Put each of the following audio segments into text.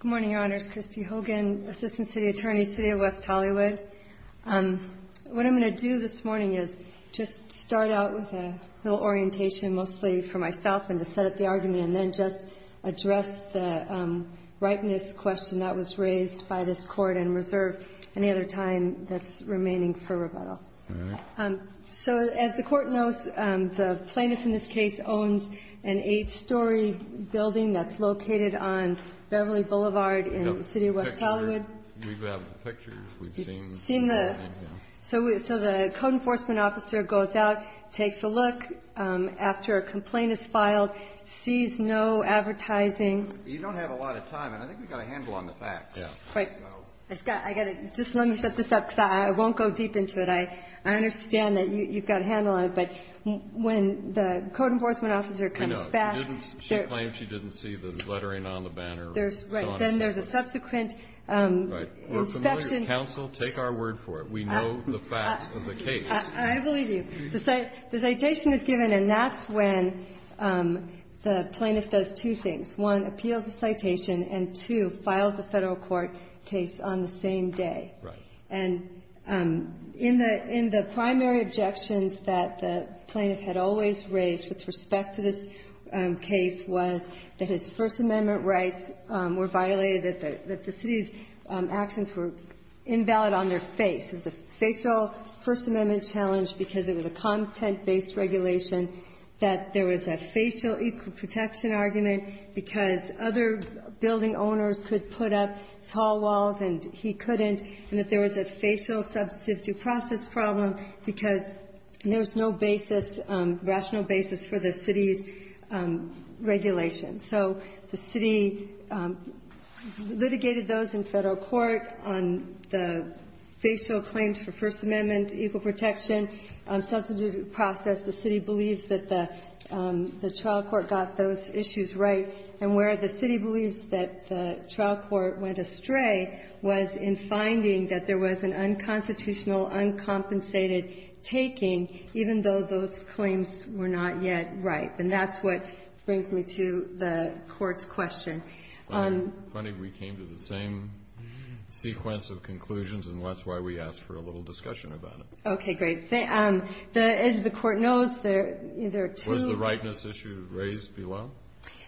Good morning, Your Honors. Christy Hogan, Assistant City Attorney, City of West Hollywood. What I'm going to do this morning is just start out with a little orientation mostly for myself and to set up the argument and then just address the ripeness question that was raised by this Court and reserve any other time that's remaining for rebuttal. So as the Court knows, the plaintiff in this case owns an eight-story building that's located on Beverly Blvd. in the City of West Hollywood. We've had pictures. We've seen the building, yes. So the code enforcement officer goes out, takes a look after a complaint is filed, sees no advertising. You don't have a lot of time, and I think we've got a handle on the facts. Right. I've got to just let me set this up because I won't go deep into it. I understand that you've got a handle on it, but when the code enforcement officer comes back, there's a subsequent inspection. Counsel, take our word for it. We know the facts of the case. I believe you. The citation is given, and that's when the plaintiff does two things. One, appeals the citation, and two, files a Federal court case on the same day. Right. And in the primary objections that the plaintiff had always raised with respect to this case was that his First Amendment rights were violated, that the city's actions were invalid on their face. It was a facial First Amendment challenge because it was a content-based regulation, that there was a facial equal protection argument because other building owners could put up tall walls and he couldn't, and that there was a facial substantive due process problem because there was no basis, rational basis for the city's regulation. So the city litigated those in Federal court on the facial claims for First Amendment equal protection substantive due process. The city believes that the trial court got those issues right, and where the city believes that the trial court went astray was in finding that there was an unconstitutional, uncompensated taking, even though those claims were not yet right. And that's what brings me to the Court's question. Kennedy, we came to the same sequence of conclusions, and that's why we asked for a little discussion about it. Okay. Great. As the Court knows, there are two of them. Was the rightness issue raised below?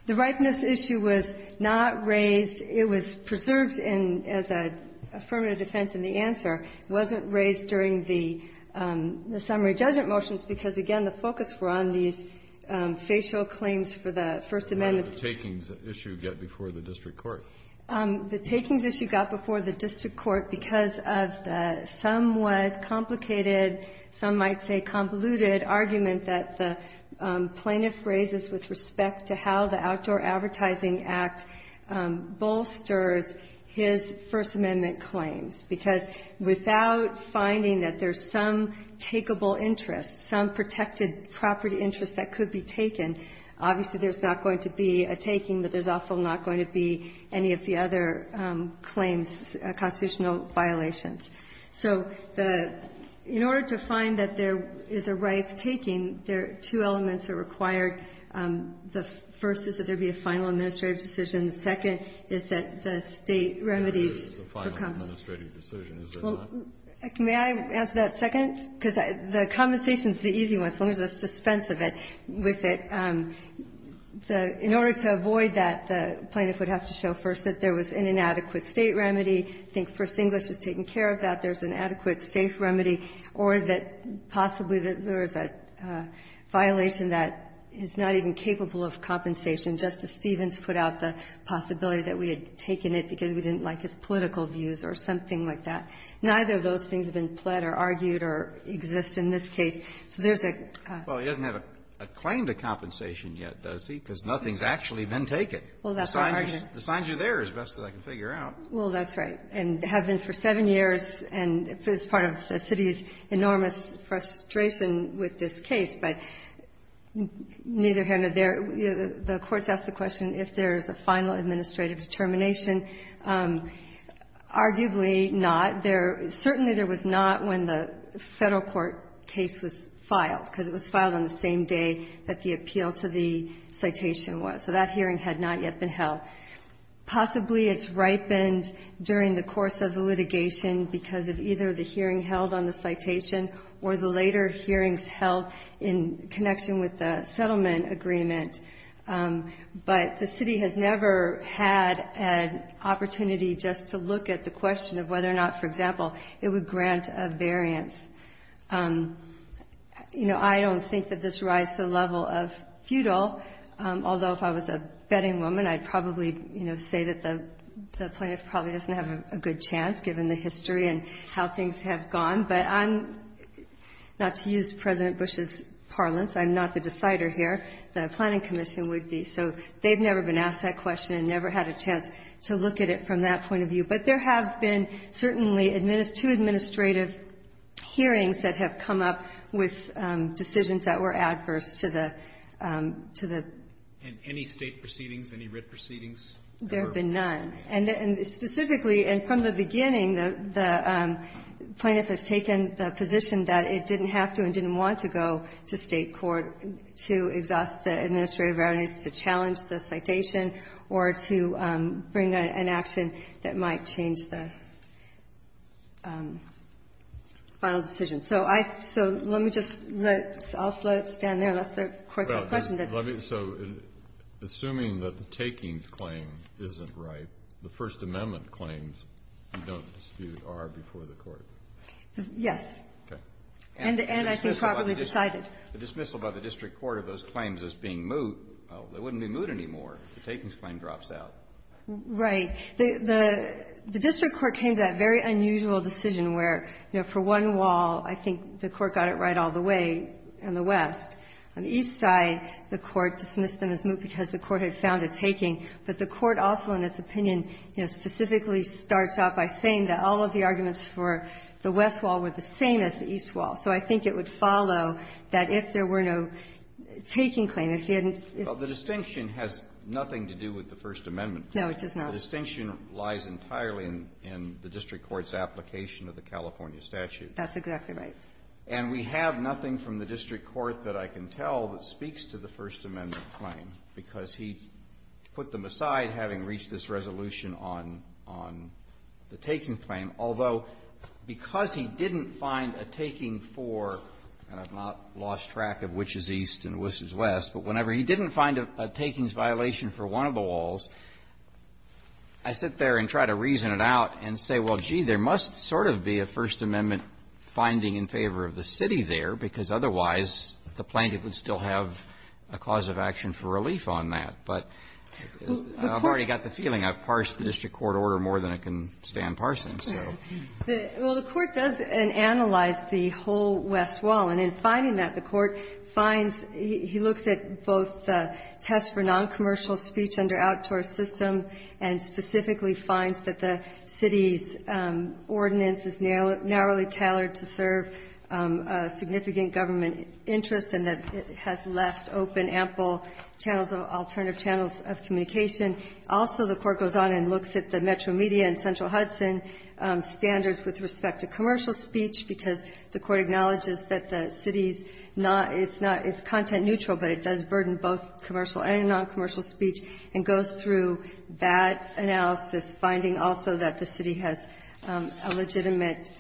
The rightness issue was not raised. It was preserved as an affirmative defense in the answer. It wasn't raised during the summary judgment motions because, again, the focus were on these facial claims for the First Amendment. What did the takings issue get before the district court? The takings issue got before the district court because of the somewhat complicated, some might say convoluted argument that the plaintiff raises with respect to how the Outdoor Advertising Act bolsters his First Amendment claims, because without finding that there's some takeable interest, some protected property interest that could be taken, obviously, there's not going to be a taking, but there's also not going to be any of the other claims, constitutional violations. So the – in order to find that there is a right taking, there are two elements that are required. The first is that there be a final administrative decision. The second is that the State remedies the compensation. Kennedy, this is the final administrative decision, is it not? May I answer that second? Because the compensation is the easy one, as long as there's a suspense of it. With it, the – in order to avoid that, the plaintiff would have to show first that there was an inadequate State remedy, think First English has taken care of that, there's an adequate State remedy, or that possibly that there is a violation that is not even capable of compensation. Justice Stevens put out the possibility that we had taken it because we didn't like his political views or something like that. Neither of those things have been pled or argued or exist in this case. So there's a – Well, he doesn't have a claim to compensation yet, does he? Because nothing's actually been taken. Well, that's what I'm arguing. The signs are there, as best as I can figure out. Well, that's right. And have been for seven years, and for this part of the city's enormous frustration with this case. But neither here nor there, the courts ask the question if there is a final administrative determination. Arguably not. Certainly there was not when the Federal court case was filed, because it was filed on the same day that the appeal to the citation was. So that hearing had not yet been held. Possibly it's ripened during the course of the litigation because of either the hearing held on the citation or the later hearings held in connection with the settlement agreement. But the city has never had an opportunity just to look at the question of whether or not, for example, it would grant a variance. You know, I don't think that this rises the level of feudal, although if I was a betting woman, I'd probably, you know, say that the plaintiff probably doesn't have a good chance, given the history and how things have gone. But I'm – not to use President Bush's parlance, I'm not the decider here. The Planning Commission would be. So they've never been asked that question and never had a chance to look at it from that point of view. But there have been certainly two administrative hearings that have come up with decisions that were adverse to the – to the – And any State proceedings, any writ proceedings? There have been none. And specifically, and from the beginning, the plaintiff has taken the position that it didn't have to and didn't want to go to State court to exhaust the administrative variance, to challenge the citation, or to bring an action that might change the final decision. So I – so let me just let – I'll stand there unless the Court has a question that – Well, let me – so assuming that the takings claim isn't right, the First Amendment claims, you don't dispute, are before the Court? Yes. Okay. And I think properly decided. The dismissal by the district court of those claims as being moot, well, they wouldn't be moot anymore. The takings claim drops out. Right. The district court came to that very unusual decision where, you know, for one wall, I think the Court got it right all the way in the West. On the East side, the Court dismissed them as moot because the Court had found a taking. But the Court also, in its opinion, you know, specifically starts out by saying that all of the arguments for the West wall were the same as the East wall. So I think it would follow that if there were no taking claim, if you hadn't – Well, the distinction has nothing to do with the First Amendment. No, it does not. The distinction lies entirely in the district court's application of the California statute. That's exactly right. And we have nothing from the district court that I can tell that speaks to the First Amendment claim because he put them aside having reached this resolution on – on the taking claim. Although, because he didn't find a taking for – and I've not lost track of which is East and which is West, but whenever he didn't find a takings violation for one of the walls, I sit there and try to reason it out and say, well, gee, there must sort of be a First Amendment finding in favor of the city there, because otherwise the plaintiff would still have a cause of action for relief on that. But I've already got the feeling I've parsed the district court order more than I can stand parsing, so. Well, the court does analyze the whole West Wall. And in finding that, the court finds – he looks at both the test for non-commercial speech under Outdoor System and specifically finds that the city's ordinance is narrowly tailored to serve a significant government interest and that it has left open ample channels of alternative channels of communication. Also, the court goes on and looks at the Metro Media and Central Hudson standards with respect to commercial speech, because the court acknowledges that the city's not – it's not – it's content neutral, but it does burden both commercial and non-commercial speech, and goes through that analysis, finding also that the city has a legitimate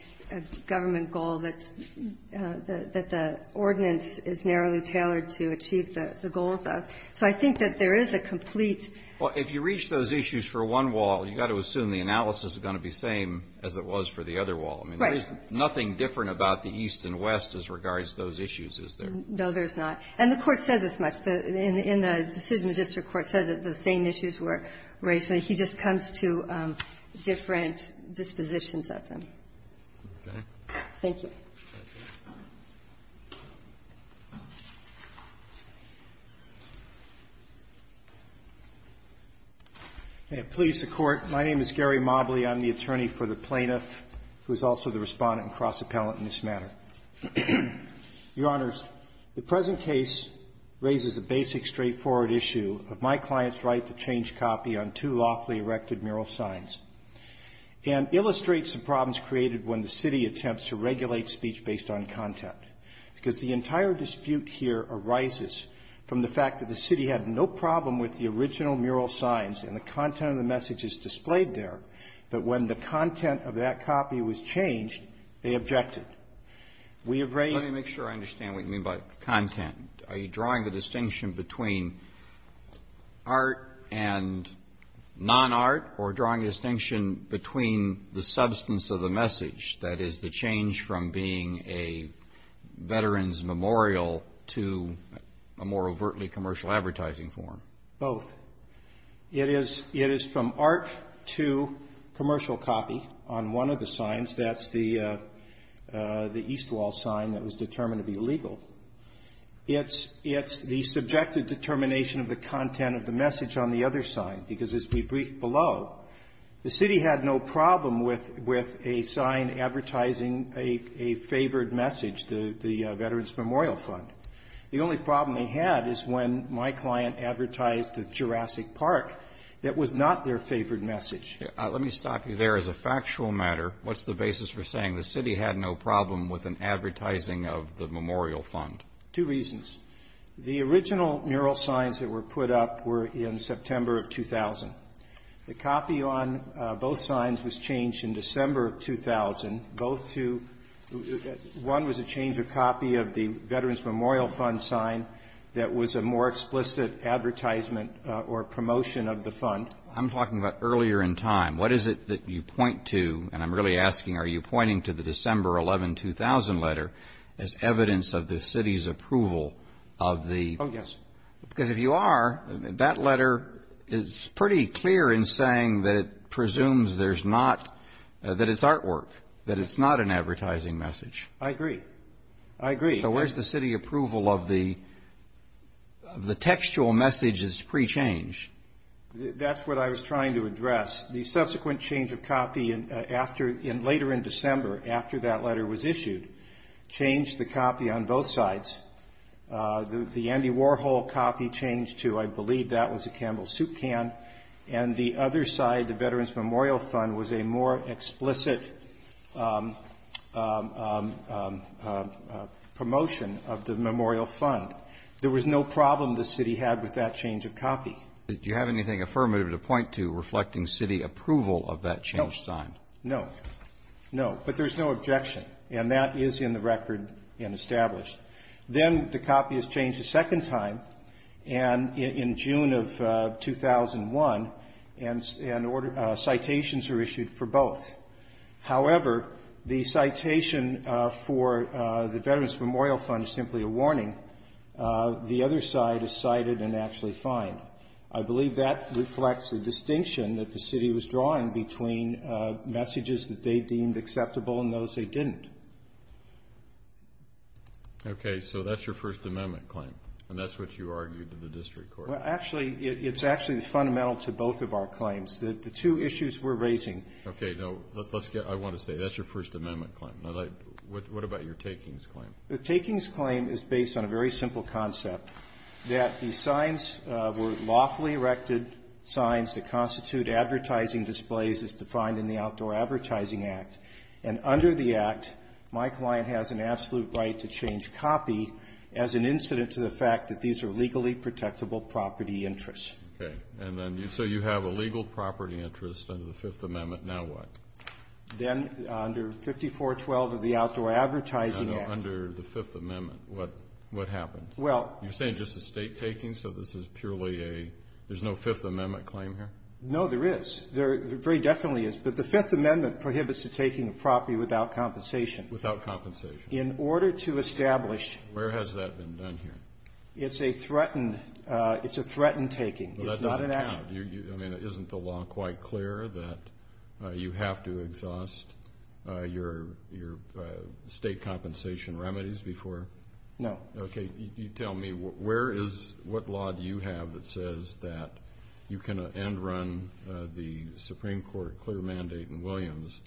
government goal that's – that the ordinance is narrowly tailored to achieve the goals of. So I think that there is a complete – Well, if you reach those issues for one wall, you've got to assume the analysis is going to be the same as it was for the other wall. Right. I mean, there's nothing different about the East and West as regards to those issues, is there? No, there's not. And the court says as much. In the decision, the district court says that the same issues were raised. So he just comes to different dispositions of them. Okay. Thank you. Please, the Court. My name is Gary Mobley. I'm the attorney for the plaintiff, who is also the Respondent and cross-appellant in this matter. Your Honors, the present case raises a basic, straightforward issue of my client's right to change copy on two lawfully erected mural signs, and illustrates the problems created when the City attempts to regulate speech based on content, because the entire dispute here arises from the fact that the City had no problem with the original mural signs and the content of the messages displayed there, but when the content of that copy was changed, they objected. We have raised – Let me make sure I understand what you mean by content. Are you drawing the distinction between art and non-art, or drawing the distinction between the substance of the message, that is, the change from being a veteran's memorial to a more overtly commercial advertising form? Both. It is from art to commercial copy on one of the signs. That's the East Wall sign that was determined to be legal. It's the subjective determination of the content of the message on the other sign, because as we briefed below, the City had no problem with a sign advertising a favored message, the Veterans Memorial Fund. The only problem they had is when my client advertised the Jurassic Park. That was not their favored message. Let me stop you there. As a factual matter, what's the basis for saying the City had no problem with an advertising of the Memorial Fund? Two reasons. The original mural signs that were put up were in September of 2000. The copy on both signs was changed in December of 2000, both to – one was a change of copy of the Veterans Memorial Fund sign that was a more explicit advertisement or promotion of the fund. I'm talking about earlier in time. What is it that you point to – and I'm really asking, are you pointing to the December 11, 2000 letter as evidence of the City's approval of the – Oh, yes. Because if you are, that letter is pretty clear in saying that it presumes there's not – that it's artwork, that it's not an advertising message. I agree. I agree. So where's the City approval of the textual message's pre-change? That's what I was trying to address. The subsequent change of copy after – later in December, after that letter was issued, changed the copy on both sides. The Andy Warhol copy changed to – I believe that was a Campbell soup can. And the other side, the Veterans Memorial Fund, was a more explicit promotion of the Memorial Fund. There was no problem the City had with that change of copy. Do you have anything affirmative to point to reflecting City approval of that change signed? No. No. No. But there's no objection. And that is in the record and established. Then the copy is changed a second time, and in June of 2001, and citations are issued for both. However, the citation for the Veterans Memorial Fund is simply a warning. The other side is cited and actually fined. I believe that reflects the distinction that the City was drawing between messages that they deemed acceptable and those they didn't. Okay. So that's your First Amendment claim, and that's what you argued to the district court. Well, actually, it's actually fundamental to both of our claims. The two issues we're raising – Okay. No. Let's get – I want to say that's your First Amendment claim. I'd like – what about your takings claim? The takings claim is based on a very simple concept, that the signs were lawfully erected signs that constitute advertising displays as defined in the Outdoor Advertising Act. And under the Act, my client has an absolute right to change copy as an incident to the fact that these are legally protectable property interests. Okay. And then you say you have a legal property interest under the Fifth Amendment. Now what? Then under 5412 of the Outdoor Advertising Act – No, no, no. Under the Fifth Amendment, what happens? Well – You're saying just a state taking, so this is purely a – there's no Fifth Amendment claim here? No, there is. There very definitely is. But the Fifth Amendment prohibits the taking of property without compensation. Without compensation. In order to establish – Where has that been done here? It's a threatened – it's a threatened taking. It's not an act – Well, that doesn't count. I mean, isn't the law quite clear that you have to exhaust your state compensation remedies before – No. Okay. You tell me. Where is – what law do you have that says that you can and run the Supreme Court clear mandate in Williams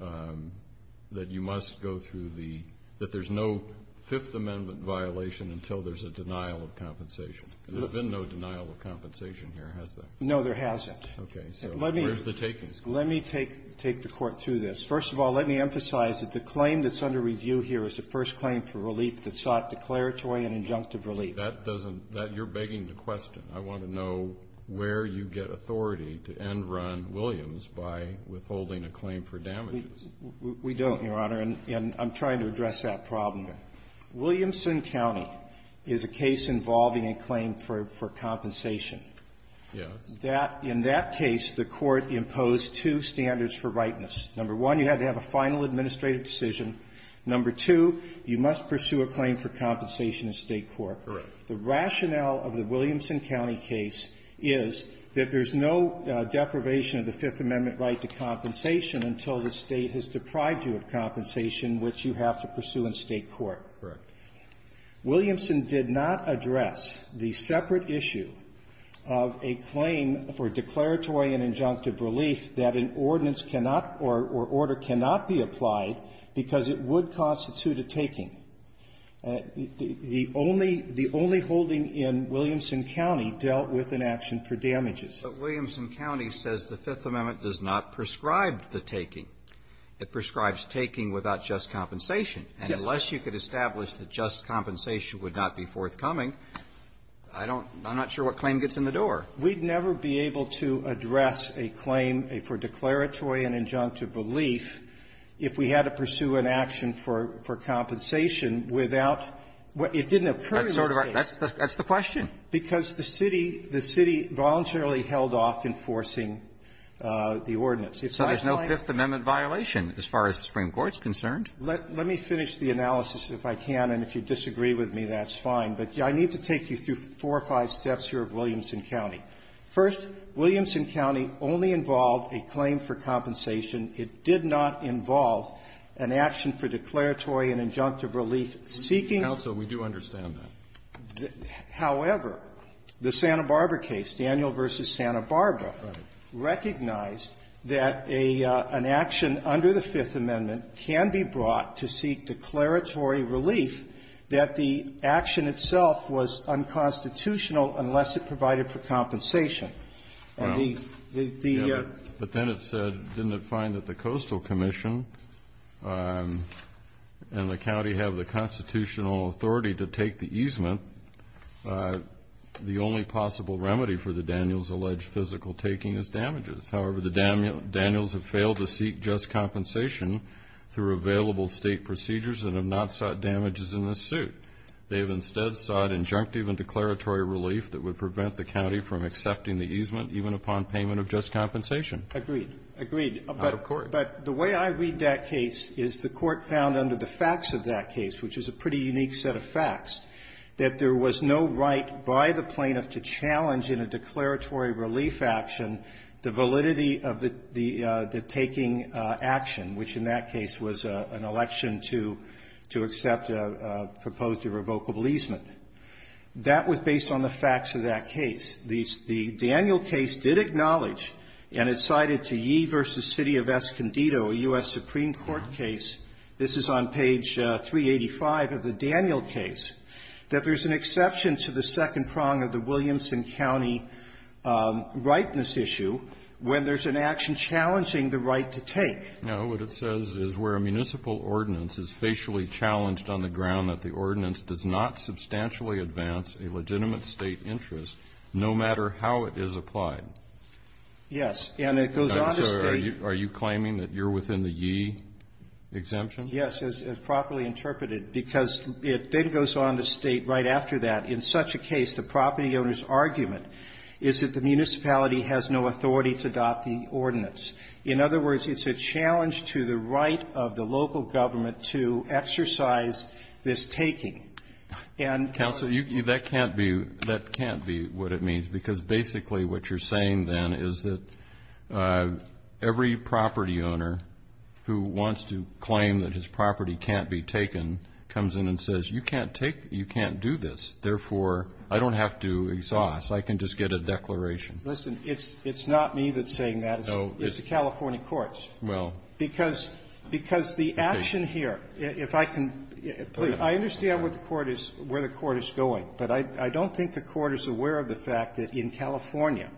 that you must go through the – that there's no Fifth Amendment violation until there's a denial of compensation? There's been no denial of compensation here, has there? No, there hasn't. Okay. So where's the taking? Let me – let me take – take the Court through this. First of all, let me emphasize that the claim that's under review here is the first claim for relief that sought declaratory and injunctive relief. That doesn't – that – you're begging the question. I want to know where you get authority to and run Williams by withholding a claim for damages. We don't, Your Honor, and I'm trying to address that problem. Williamson County is a case involving a claim for – for compensation. Yes. That – in that case, the Court imposed two standards for rightness. Number one, you had to have a final administrative decision. Number two, you must pursue a claim for compensation in State court. Correct. The rationale of the Williamson County case is that there's no deprivation of the Fifth Amendment right to compensation until the State has deprived you of compensation, which you have to pursue in State court. Correct. Williamson did not address the separate issue of a claim for declaratory and injunctive relief that an ordinance cannot or – or order cannot be applied because it would constitute a taking. The only – the only holding in Williamson County dealt with an action for damages. But Williamson County says the Fifth Amendment does not prescribe the taking. It prescribes taking without just compensation. Yes. And unless you could establish that just compensation would not be forthcoming, I don't – I'm not sure what claim gets in the door. We'd never be able to address a claim for declaratory and injunctive relief if we had to pursue an action for – for compensation without – it didn't occur in this case. That's the question. Because the City – the City voluntarily held off enforcing the ordinance. So there's no Fifth Amendment violation as far as the Supreme Court is concerned. Let – let me finish the analysis if I can. And if you disagree with me, that's fine. But I need to take you through four or five steps here of Williamson County. First, Williamson County only involved a claim for compensation. It did not involve an action for declaratory and injunctive relief seeking the – Counsel, we do understand that. However, the Santa Barbara case, Daniel v. Santa Barbara, recognized that a – an action was brought to seek declaratory relief, that the action itself was unconstitutional unless it provided for compensation. And the – the – But then it said – didn't it find that the Coastal Commission and the county have the constitutional authority to take the easement, the only possible remedy for the Daniels' alleged physical taking is damages. However, the Daniels have failed to seek just compensation through available State procedures and have not sought damages in this suit. They have instead sought injunctive and declaratory relief that would prevent the county from accepting the easement even upon payment of just compensation. Agreed. Agreed. But the way I read that case is the Court found under the facts of that case, which is a pretty unique set of facts, that there was no right by the plaintiff to challenge in a declaratory relief action the validity of the – the taking action, which in that case was an election to – to accept a proposed or revocable easement. That was based on the facts of that case. The – the Daniel case did acknowledge, and it's cited to Yee v. City of Escondido, a U.S. Supreme Court case. This is on page 385 of the Daniel case, that there's an exception to the second county rightness issue when there's an action challenging the right to take. No. What it says is where a municipal ordinance is facially challenged on the ground that the ordinance does not substantially advance a legitimate State interest no matter how it is applied. Yes. And it goes on to State – Are you – are you claiming that you're within the Yee exemption? Yes, as properly interpreted, because it then goes on to State right after that. In such a case, the property owner's argument is that the municipality has no authority to adopt the ordinance. In other words, it's a challenge to the right of the local government to exercise this taking. And – Counsel, you – that can't be – that can't be what it means, because basically what you're saying then is that every property owner who wants to claim that his property can't be taken comes in and says, you can't take – you can't do this. Therefore, I don't have to exhaust. I can just get a declaration. Listen. It's – it's not me that's saying that. No. It's the California courts. Well. Because – because the action here, if I can – I understand what the court is – where the court is going. But I don't think the court is aware of the fact that, in California,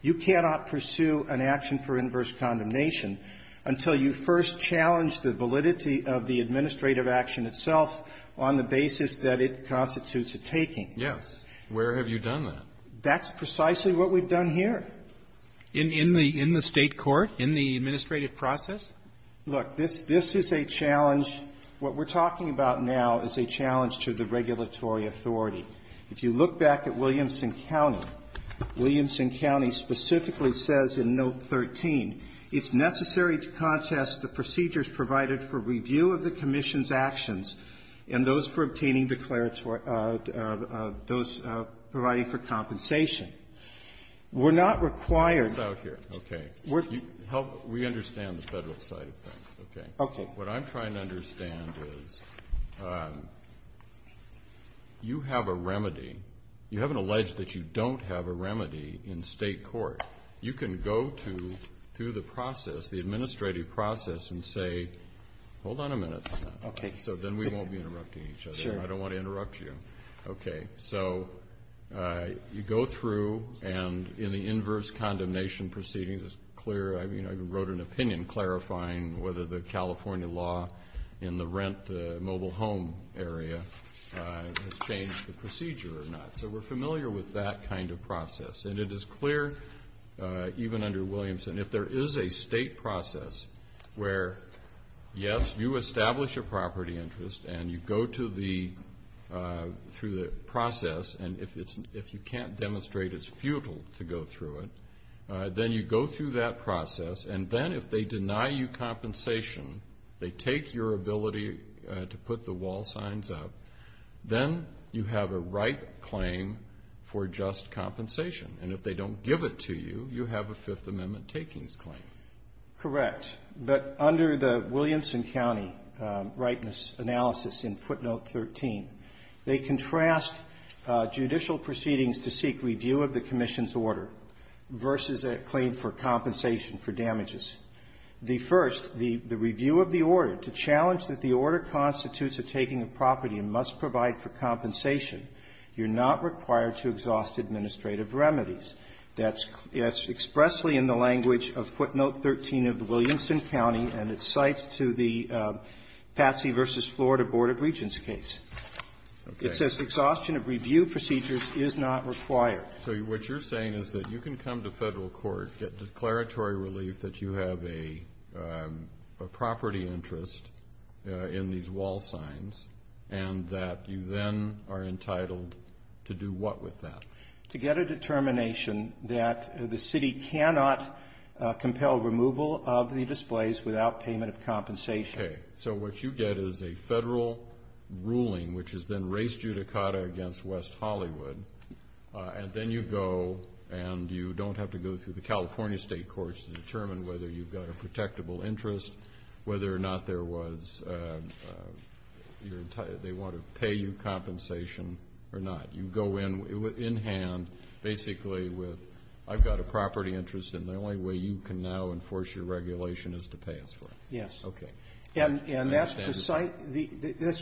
you cannot pursue an action for inverse condemnation until you first challenge the validity of the administrative action itself on the basis that it constitutes a taking. Yes. Where have you done that? That's precisely what we've done here. In – in the – in the State court, in the administrative process? Look. This – this is a challenge. What we're talking about now is a challenge to the regulatory authority. If you look back at Williamson County, Williamson County specifically says in Note 13, it's necessary to contest the procedures provided for review of the commission's actions and those for obtaining declaratory – those provided for compensation. We're not required – Let's stop here. Okay. We're – You – help – we understand the Federal side of things, okay? Okay. What I'm trying to understand is you have a remedy. You haven't alleged that you don't have a remedy in State court. You can go to – through the process, the administrative process and say, hold on a minute. Okay. So then we won't be interrupting each other. Sure. I don't want to interrupt you. Okay. So you go through and in the inverse condemnation proceedings, it's clear. I mean, I wrote an opinion clarifying whether the California law in the rent mobile home area has changed the procedure or not. So we're familiar with that kind of process. And it is clear even under Williamson. If there is a State process where, yes, you establish a property interest and you go to the – through the process and if it's – if you can't demonstrate it's futile to go through it, then you go through that process. And then if they deny you compensation, they take your ability to put the wall signs up, then you have a right claim for just compensation. And if they don't give it to you, you have a Fifth Amendment takings claim. Correct. But under the Williamson County rightness analysis in footnote 13, they contrast judicial proceedings to seek review of the commission's order versus a claim for compensation for damages. The first, the review of the order to challenge that the order constitutes a taking of property and must provide for compensation, you're not required to exhaust administrative remedies. That's expressly in the language of footnote 13 of the Williamson County and it cites to the Patsy v. Florida Board of Regents case. It says exhaustion of review procedures is not required. So what you're saying is that you can come to Federal court, get declaratory relief that you have a property interest in these wall signs, and that you then are entitled to do what with that? To get a determination that the city cannot compel removal of the displays without payment of compensation. Okay. So what you get is a Federal ruling, which is then res judicata against West Hollywood, and then you go and you don't have to go through the California State courts to determine whether you've got a protectable interest, whether or not there was your entire they want to pay you compensation or not. You go in, in hand, basically with I've got a property interest and the only way you can now enforce your regulation is to pay us for it. Yes. Okay. And that's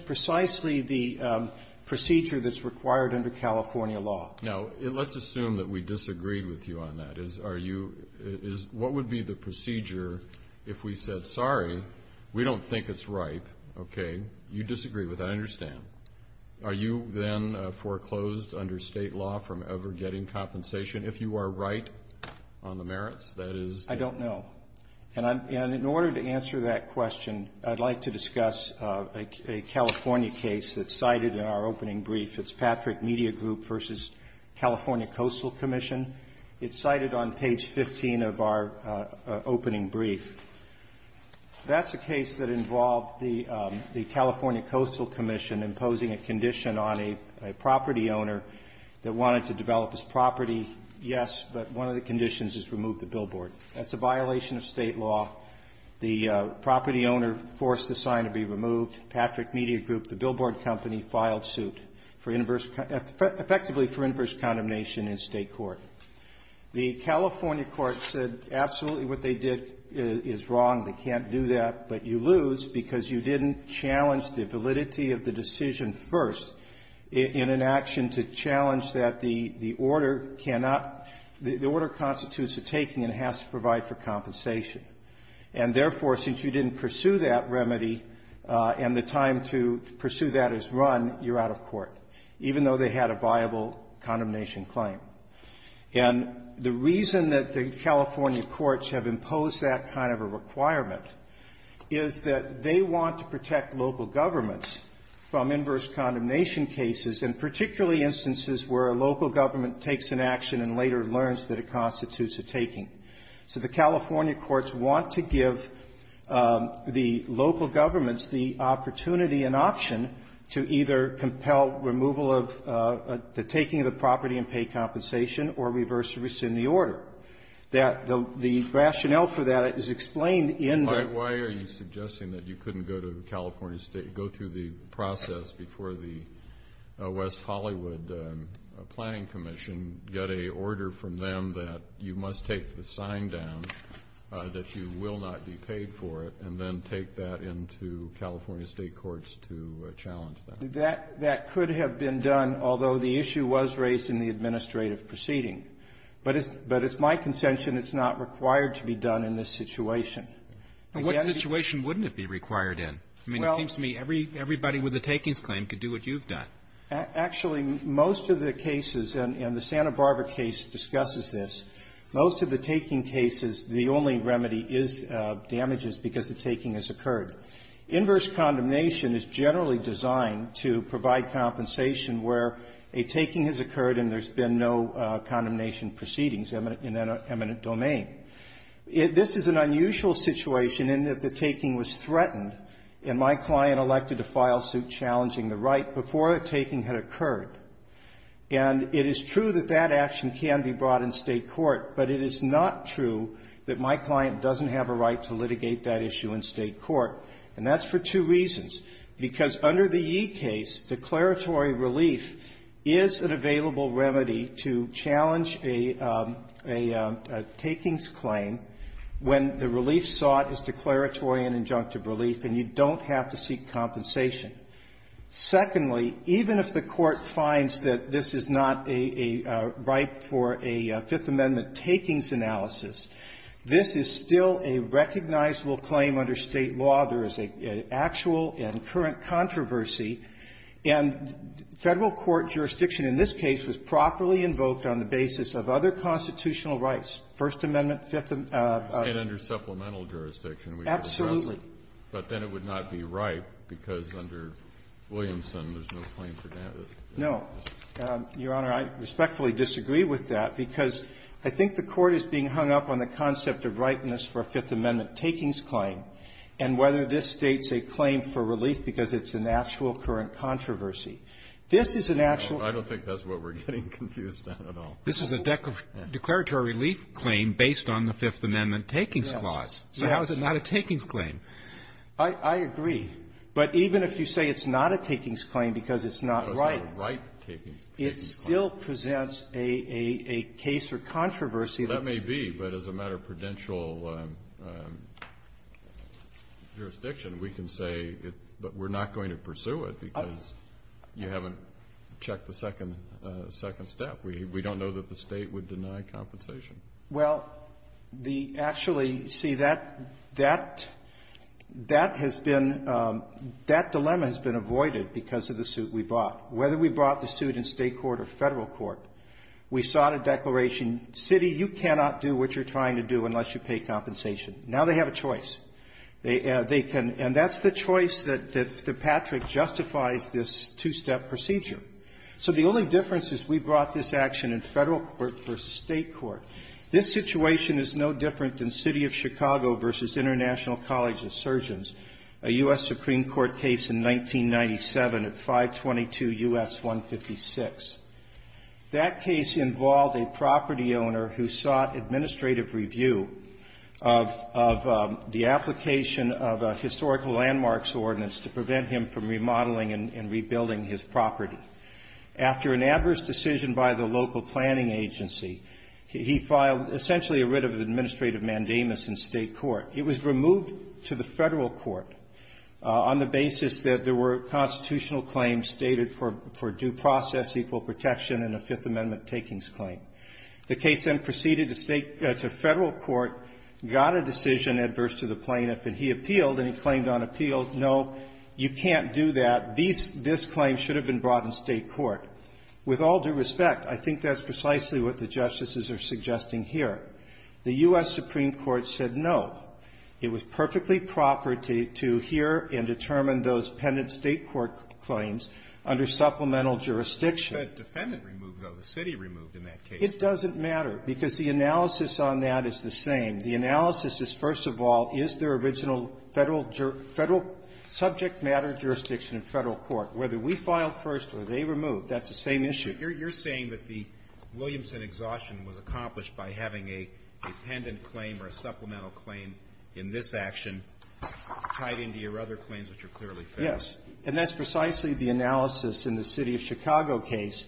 precisely the procedure that's required under California law. Now, let's assume that we disagreed with you on that. Are you what would be the procedure if we said, sorry, we don't think it's right. Okay. You disagree with that. I understand. Are you then foreclosed under State law from ever getting compensation if you are right on the merits? That is the question. I don't know. And I'm going to, in order to answer that question, I'd like to discuss a California case that's cited in our opening brief. It's Patrick Media Group v. California Coastal Commission. It's cited on page 15 of our opening brief. That's a case that involved the California Coastal Commission imposing a condition on a property owner that wanted to develop his property, yes, but one of the conditions is to remove the billboard. That's a violation of State law. The property owner forced the sign to be removed. Patrick Media Group, the billboard company, filed suit for inverse con – effectively for inverse condemnation in State court. The California court said absolutely what they did is wrong. They can't do that. But you lose because you didn't challenge the validity of the decision first in an action to challenge that the order cannot – the order constitutes a taking and has to provide for compensation. And therefore, since you didn't pursue that remedy and the time to pursue that is run, you're out of court, even though they had a viable condemnation claim. And the reason that the California courts have imposed that kind of a requirement is that they want to protect local governments from inverse condemnation cases, and particularly instances where a local government takes an action and later learns that it constitutes a taking. So the California courts want to give the local governments the opportunity and option to either compel removal of the taking of the property and pay compensation or reverse rescind the order. That the rationale for that is explained in the – Kennedy, why are you suggesting that you couldn't go to California State, go through the process before the West Hollywood Planning Commission, get a order from them that you must take the sign down, that you will not be paid for it, and then take that into California State courts to challenge that? That could have been done, although the issue was raised in the administrative proceeding. But it's my consensus it's not required to be done in this situation. What situation wouldn't it be required in? I mean, it seems to me everybody with a takings claim could do what you've done. Actually, most of the cases, and the Santa Barbara case discusses this, most of the taking cases, the only remedy is damages because the taking has occurred. Inverse condemnation is generally designed to provide compensation where a taking has occurred and there's been no condemnation proceedings in that eminent domain. This is an unusual situation in that the taking was threatened and my client elected to file suit challenging the right before the taking had occurred. And it is true that that action can be brought in State court, but it is not true that my client doesn't have a right to litigate that issue in State court. And that's for two reasons. Because under the Yee case, declaratory relief is an available remedy to challenge a takings claim when the relief sought is declaratory and injunctive relief and you don't have to seek compensation. Secondly, even if the Court finds that this is not a right for a Fifth Amendment takings analysis, this is still a recognizable claim under State law. There is an actual and current controversy. And Federal court jurisdiction in this case was properly invoked on the basis of other constitutional rights, First Amendment, Fifth Amendment. Kennedy, and under supplemental jurisdiction we can address it. Absolutely. But then it would not be right because under Williamson there's no claim for that. No. Your Honor, I respectfully disagree with that because I think the Court is being hung up on the concept of rightness for a Fifth Amendment takings claim and whether this States a claim for relief because it's an actual current controversy. This is an actual ---- I don't think that's what we're getting confused on at all. This is a declaratory relief claim based on the Fifth Amendment takings clause. Yes. So how is it not a takings claim? I agree. But even if you say it's not a takings claim because it's not right ---- It's not a right takings claim. It still presents a case or controversy that ---- Well, actually, see, that, that, that has been ---- that dilemma has been avoided because of the suit we brought. Whether we brought the suit in State court or Federal court, we sought a declaration, City, you cannot do what you're trying to do unless you pay compensation. And that's the choice that Patrick justifies, this two-step procedure. So the only difference is we brought this action in Federal court versus State court. This situation is no different than City of Chicago v. International College of Surgeons, a U.S. Supreme Court case in 1997 at 522 U.S. 156. That case involved a property owner who sought administrative review of, of the application of a historical landmarks ordinance to prevent him from remodeling and rebuilding his property. After an adverse decision by the local planning agency, he filed essentially a writ of administrative mandamus in State court. It was removed to the Federal court on the basis that there were constitutional claims stated for due process, equal protection, and a Fifth Amendment takings claim. The case then proceeded to State to Federal court, got a decision adverse to the plaintiff, and he appealed, and he claimed on appeal, no, you can't do that. These, this claim should have been brought in State court. With all due respect, I think that's precisely what the Justices are suggesting here. The U.S. Supreme Court said no. It was perfectly proper to hear and determine those penitent State court claims under supplemental jurisdiction. Alito, the defendant removed, though, the City removed in that case. It doesn't matter, because the analysis on that is the same. The analysis is, first of all, is there original Federal, Federal subject matter jurisdiction in Federal court? Whether we filed first or they removed, that's the same issue. You're saying that the Williamson exhaustion was accomplished by having a pendant claim or a supplemental claim in this action tied into your other claims, which are clearly Federal. Yes. And that's precisely the analysis in the City of Chicago case,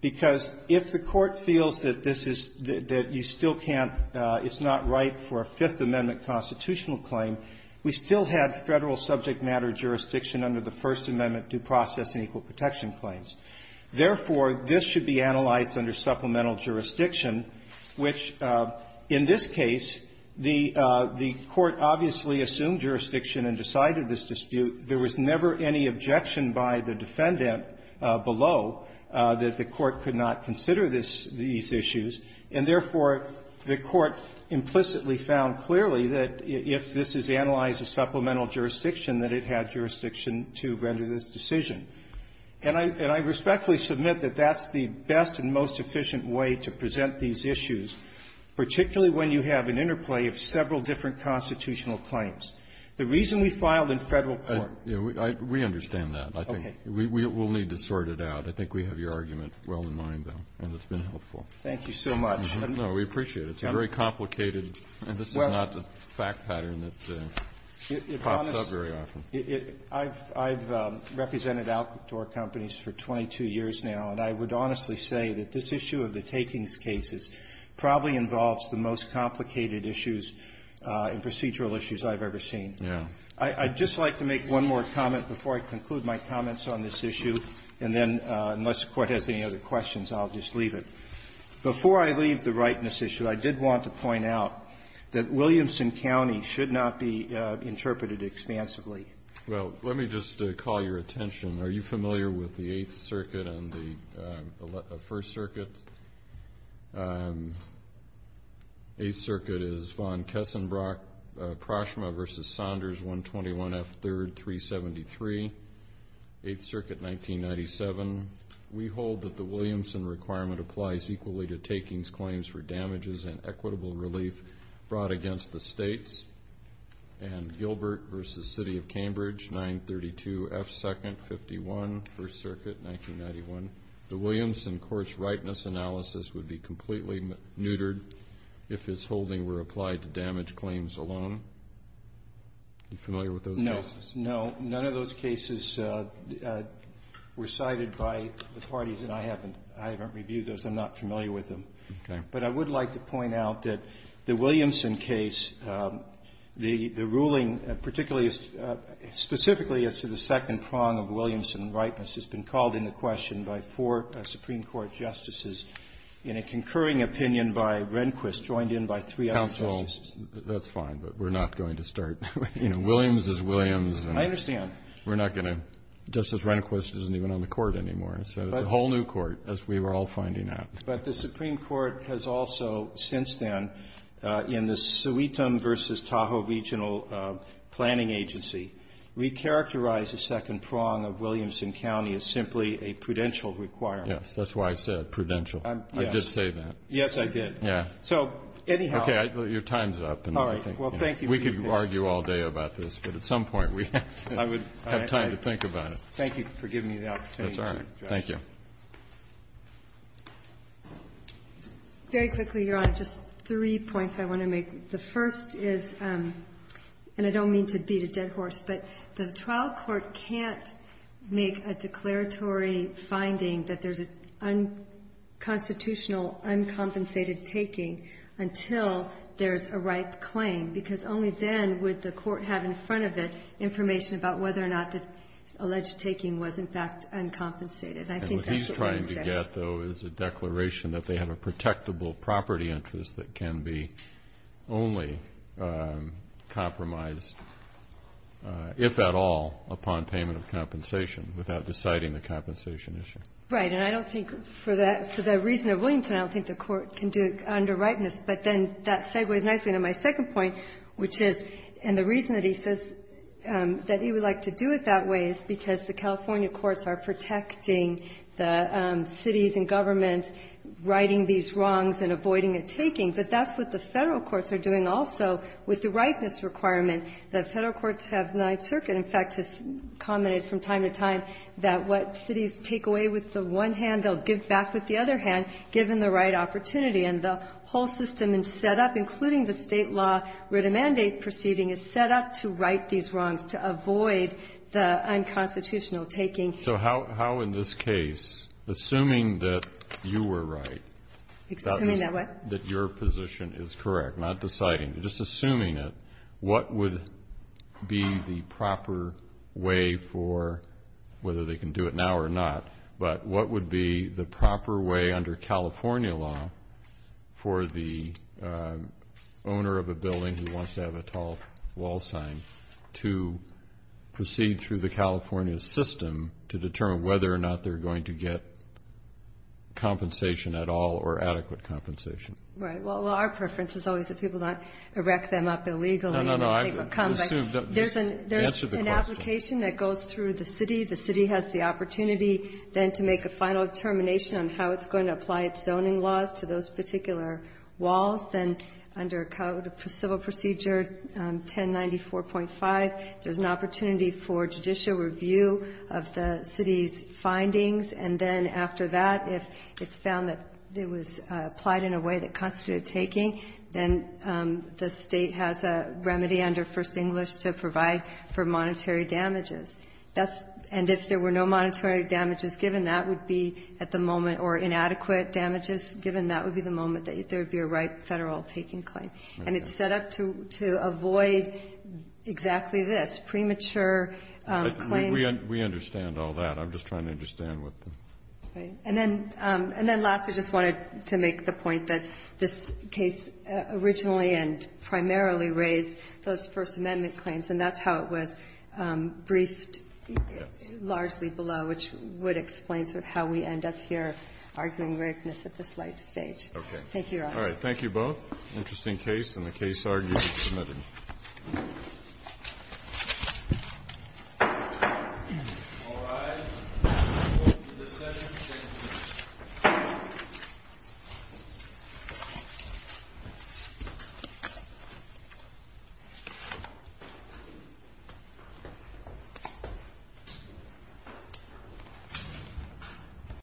because if the court feels that this is, that you still can't, it's not right for a Fifth Amendment constitutional claim, we still have Federal subject matter jurisdiction under the First Amendment due process and equal protection claims. Therefore, this should be analyzed under supplemental jurisdiction, which, in this case, the court obviously assumed jurisdiction and decided this dispute. There was never any objection by the defendant below that the court could not consider this, these issues, and, therefore, the court implicitly found clearly that if this is analyzed as supplemental jurisdiction, that it had jurisdiction to render this decision. And I respectfully submit that that's the best and most efficient way to present these issues, particularly when you have an interplay of several different constitutional claims. The reason we filed in Federal court was because of that. Thank you so much. No, we appreciate it. It's a very complicated and this is not a fact pattern that pops up very often. I've represented Alcator companies for 22 years now, and I would honestly say that this issue of the takings cases probably involves the most complicated issues in procedural issues I've ever seen. Yeah. I'd just like to make one more comment before I conclude my comments on this issue, and then, unless the Court has any other questions, I'll just leave it. Before I leave the rightness issue, I did want to point out that Williamson County should not be interpreted expansively. Well, let me just call your attention. Are you familiar with the Eighth Circuit and the First Circuit? Eighth Circuit is von Kessenbrock-Proschma v. Saunders, 121 F. 3rd, 373. Eighth Circuit, 1997. We hold that the Williamson requirement applies equally to takings claims for damages and equitable relief brought against the states. And Gilbert v. City of Cambridge, 932 F. 2nd, 51. First Circuit, 1991. The Williamson court's rightness analysis would be completely familiar with those cases? No. None of those cases were cited by the parties, and I haven't reviewed those. I'm not familiar with them. Okay. But I would like to point out that the Williamson case, the ruling, particularly as to the second prong of Williamson rightness, has been called into question by four Supreme Court justices in a concurring opinion by Rehnquist, joined in by three other justices. That's fine, but we're not going to start. You know, Williams is Williams. I understand. We're not going to. Justice Rehnquist isn't even on the Court anymore. So it's a whole new Court, as we were all finding out. But the Supreme Court has also, since then, in the Suitam v. Tahoe Regional Planning Agency, recharacterized the second prong of Williamson County as simply a prudential requirement. Yes. That's why I said prudential. I did say that. Yes, I did. Yes. So, anyhow. Okay. Your time's up. All right. Well, thank you. We could argue all day about this, but at some point we have to have time to think about it. Thank you for giving me the opportunity to address it. That's all right. Thank you. Very quickly, Your Honor, just three points I want to make. The first is, and I don't mean to beat a dead horse, but the trial court can't make a declaratory finding that there's a constitutional uncompensated taking until there's a right claim, because only then would the Court have in front of it information about whether or not the alleged taking was, in fact, uncompensated. And I think that's what Williamson says. And what he's trying to get, though, is a declaration that they have a protectable property interest that can be only compromised, if at all, upon payment of compensation without deciding the compensation issue. Right. And I don't think for that reason of Williamson, I don't think the Court can do it under rightness. But then that segues nicely to my second point, which is, and the reason that he says that he would like to do it that way is because the California courts are protecting the cities and governments writing these wrongs and avoiding a taking. But that's what the Federal courts are doing also with the rightness requirement. The Federal courts have, the Ninth Circuit, in fact, has commented from time to time that what cities take away with the one hand, they'll give back with the other hand, given the right opportunity. And the whole system is set up, including the State law where the mandate proceeding is set up to right these wrongs, to avoid the unconstitutional taking. So how in this case, assuming that you were right, that your position is correct, not deciding, just assuming it, what would be the proper way for, whether they can do it now or not, but what would be the proper way under California law for the owner of a building who wants to have a tall wall sign to proceed through the California system to determine whether or not they're going to get compensation at all or adequate compensation? Right. Well, our preference is always that people don't erect them up illegally. No, no, no. I would assume that, to answer the question. There's an application that goes through the city. The city has the opportunity then to make a final determination on how it's going to apply its zoning laws to those particular walls. Then under Civil Procedure 1094.5, there's an opportunity for judicial review of the city's findings, and then after that, if it's found that it was applied in a way that would constitute a taking, then the State has a remedy under First English to provide for monetary damages. That's and if there were no monetary damages given, that would be at the moment or inadequate damages given, that would be the moment that there would be a right Federal taking claim. And it's set up to avoid exactly this, premature claims. We understand all that. I'm just trying to understand what the Right. And then, and then last, I just wanted to make the point that this case originally and primarily raised those First Amendment claims, and that's how it was briefed largely below, which would explain sort of how we end up here arguing rightness at this late stage. Thank you, Your Honor. All right. Interesting case, and the case argued and submitted. All right. Discussion? Thank you. Thank you. Okay. All right.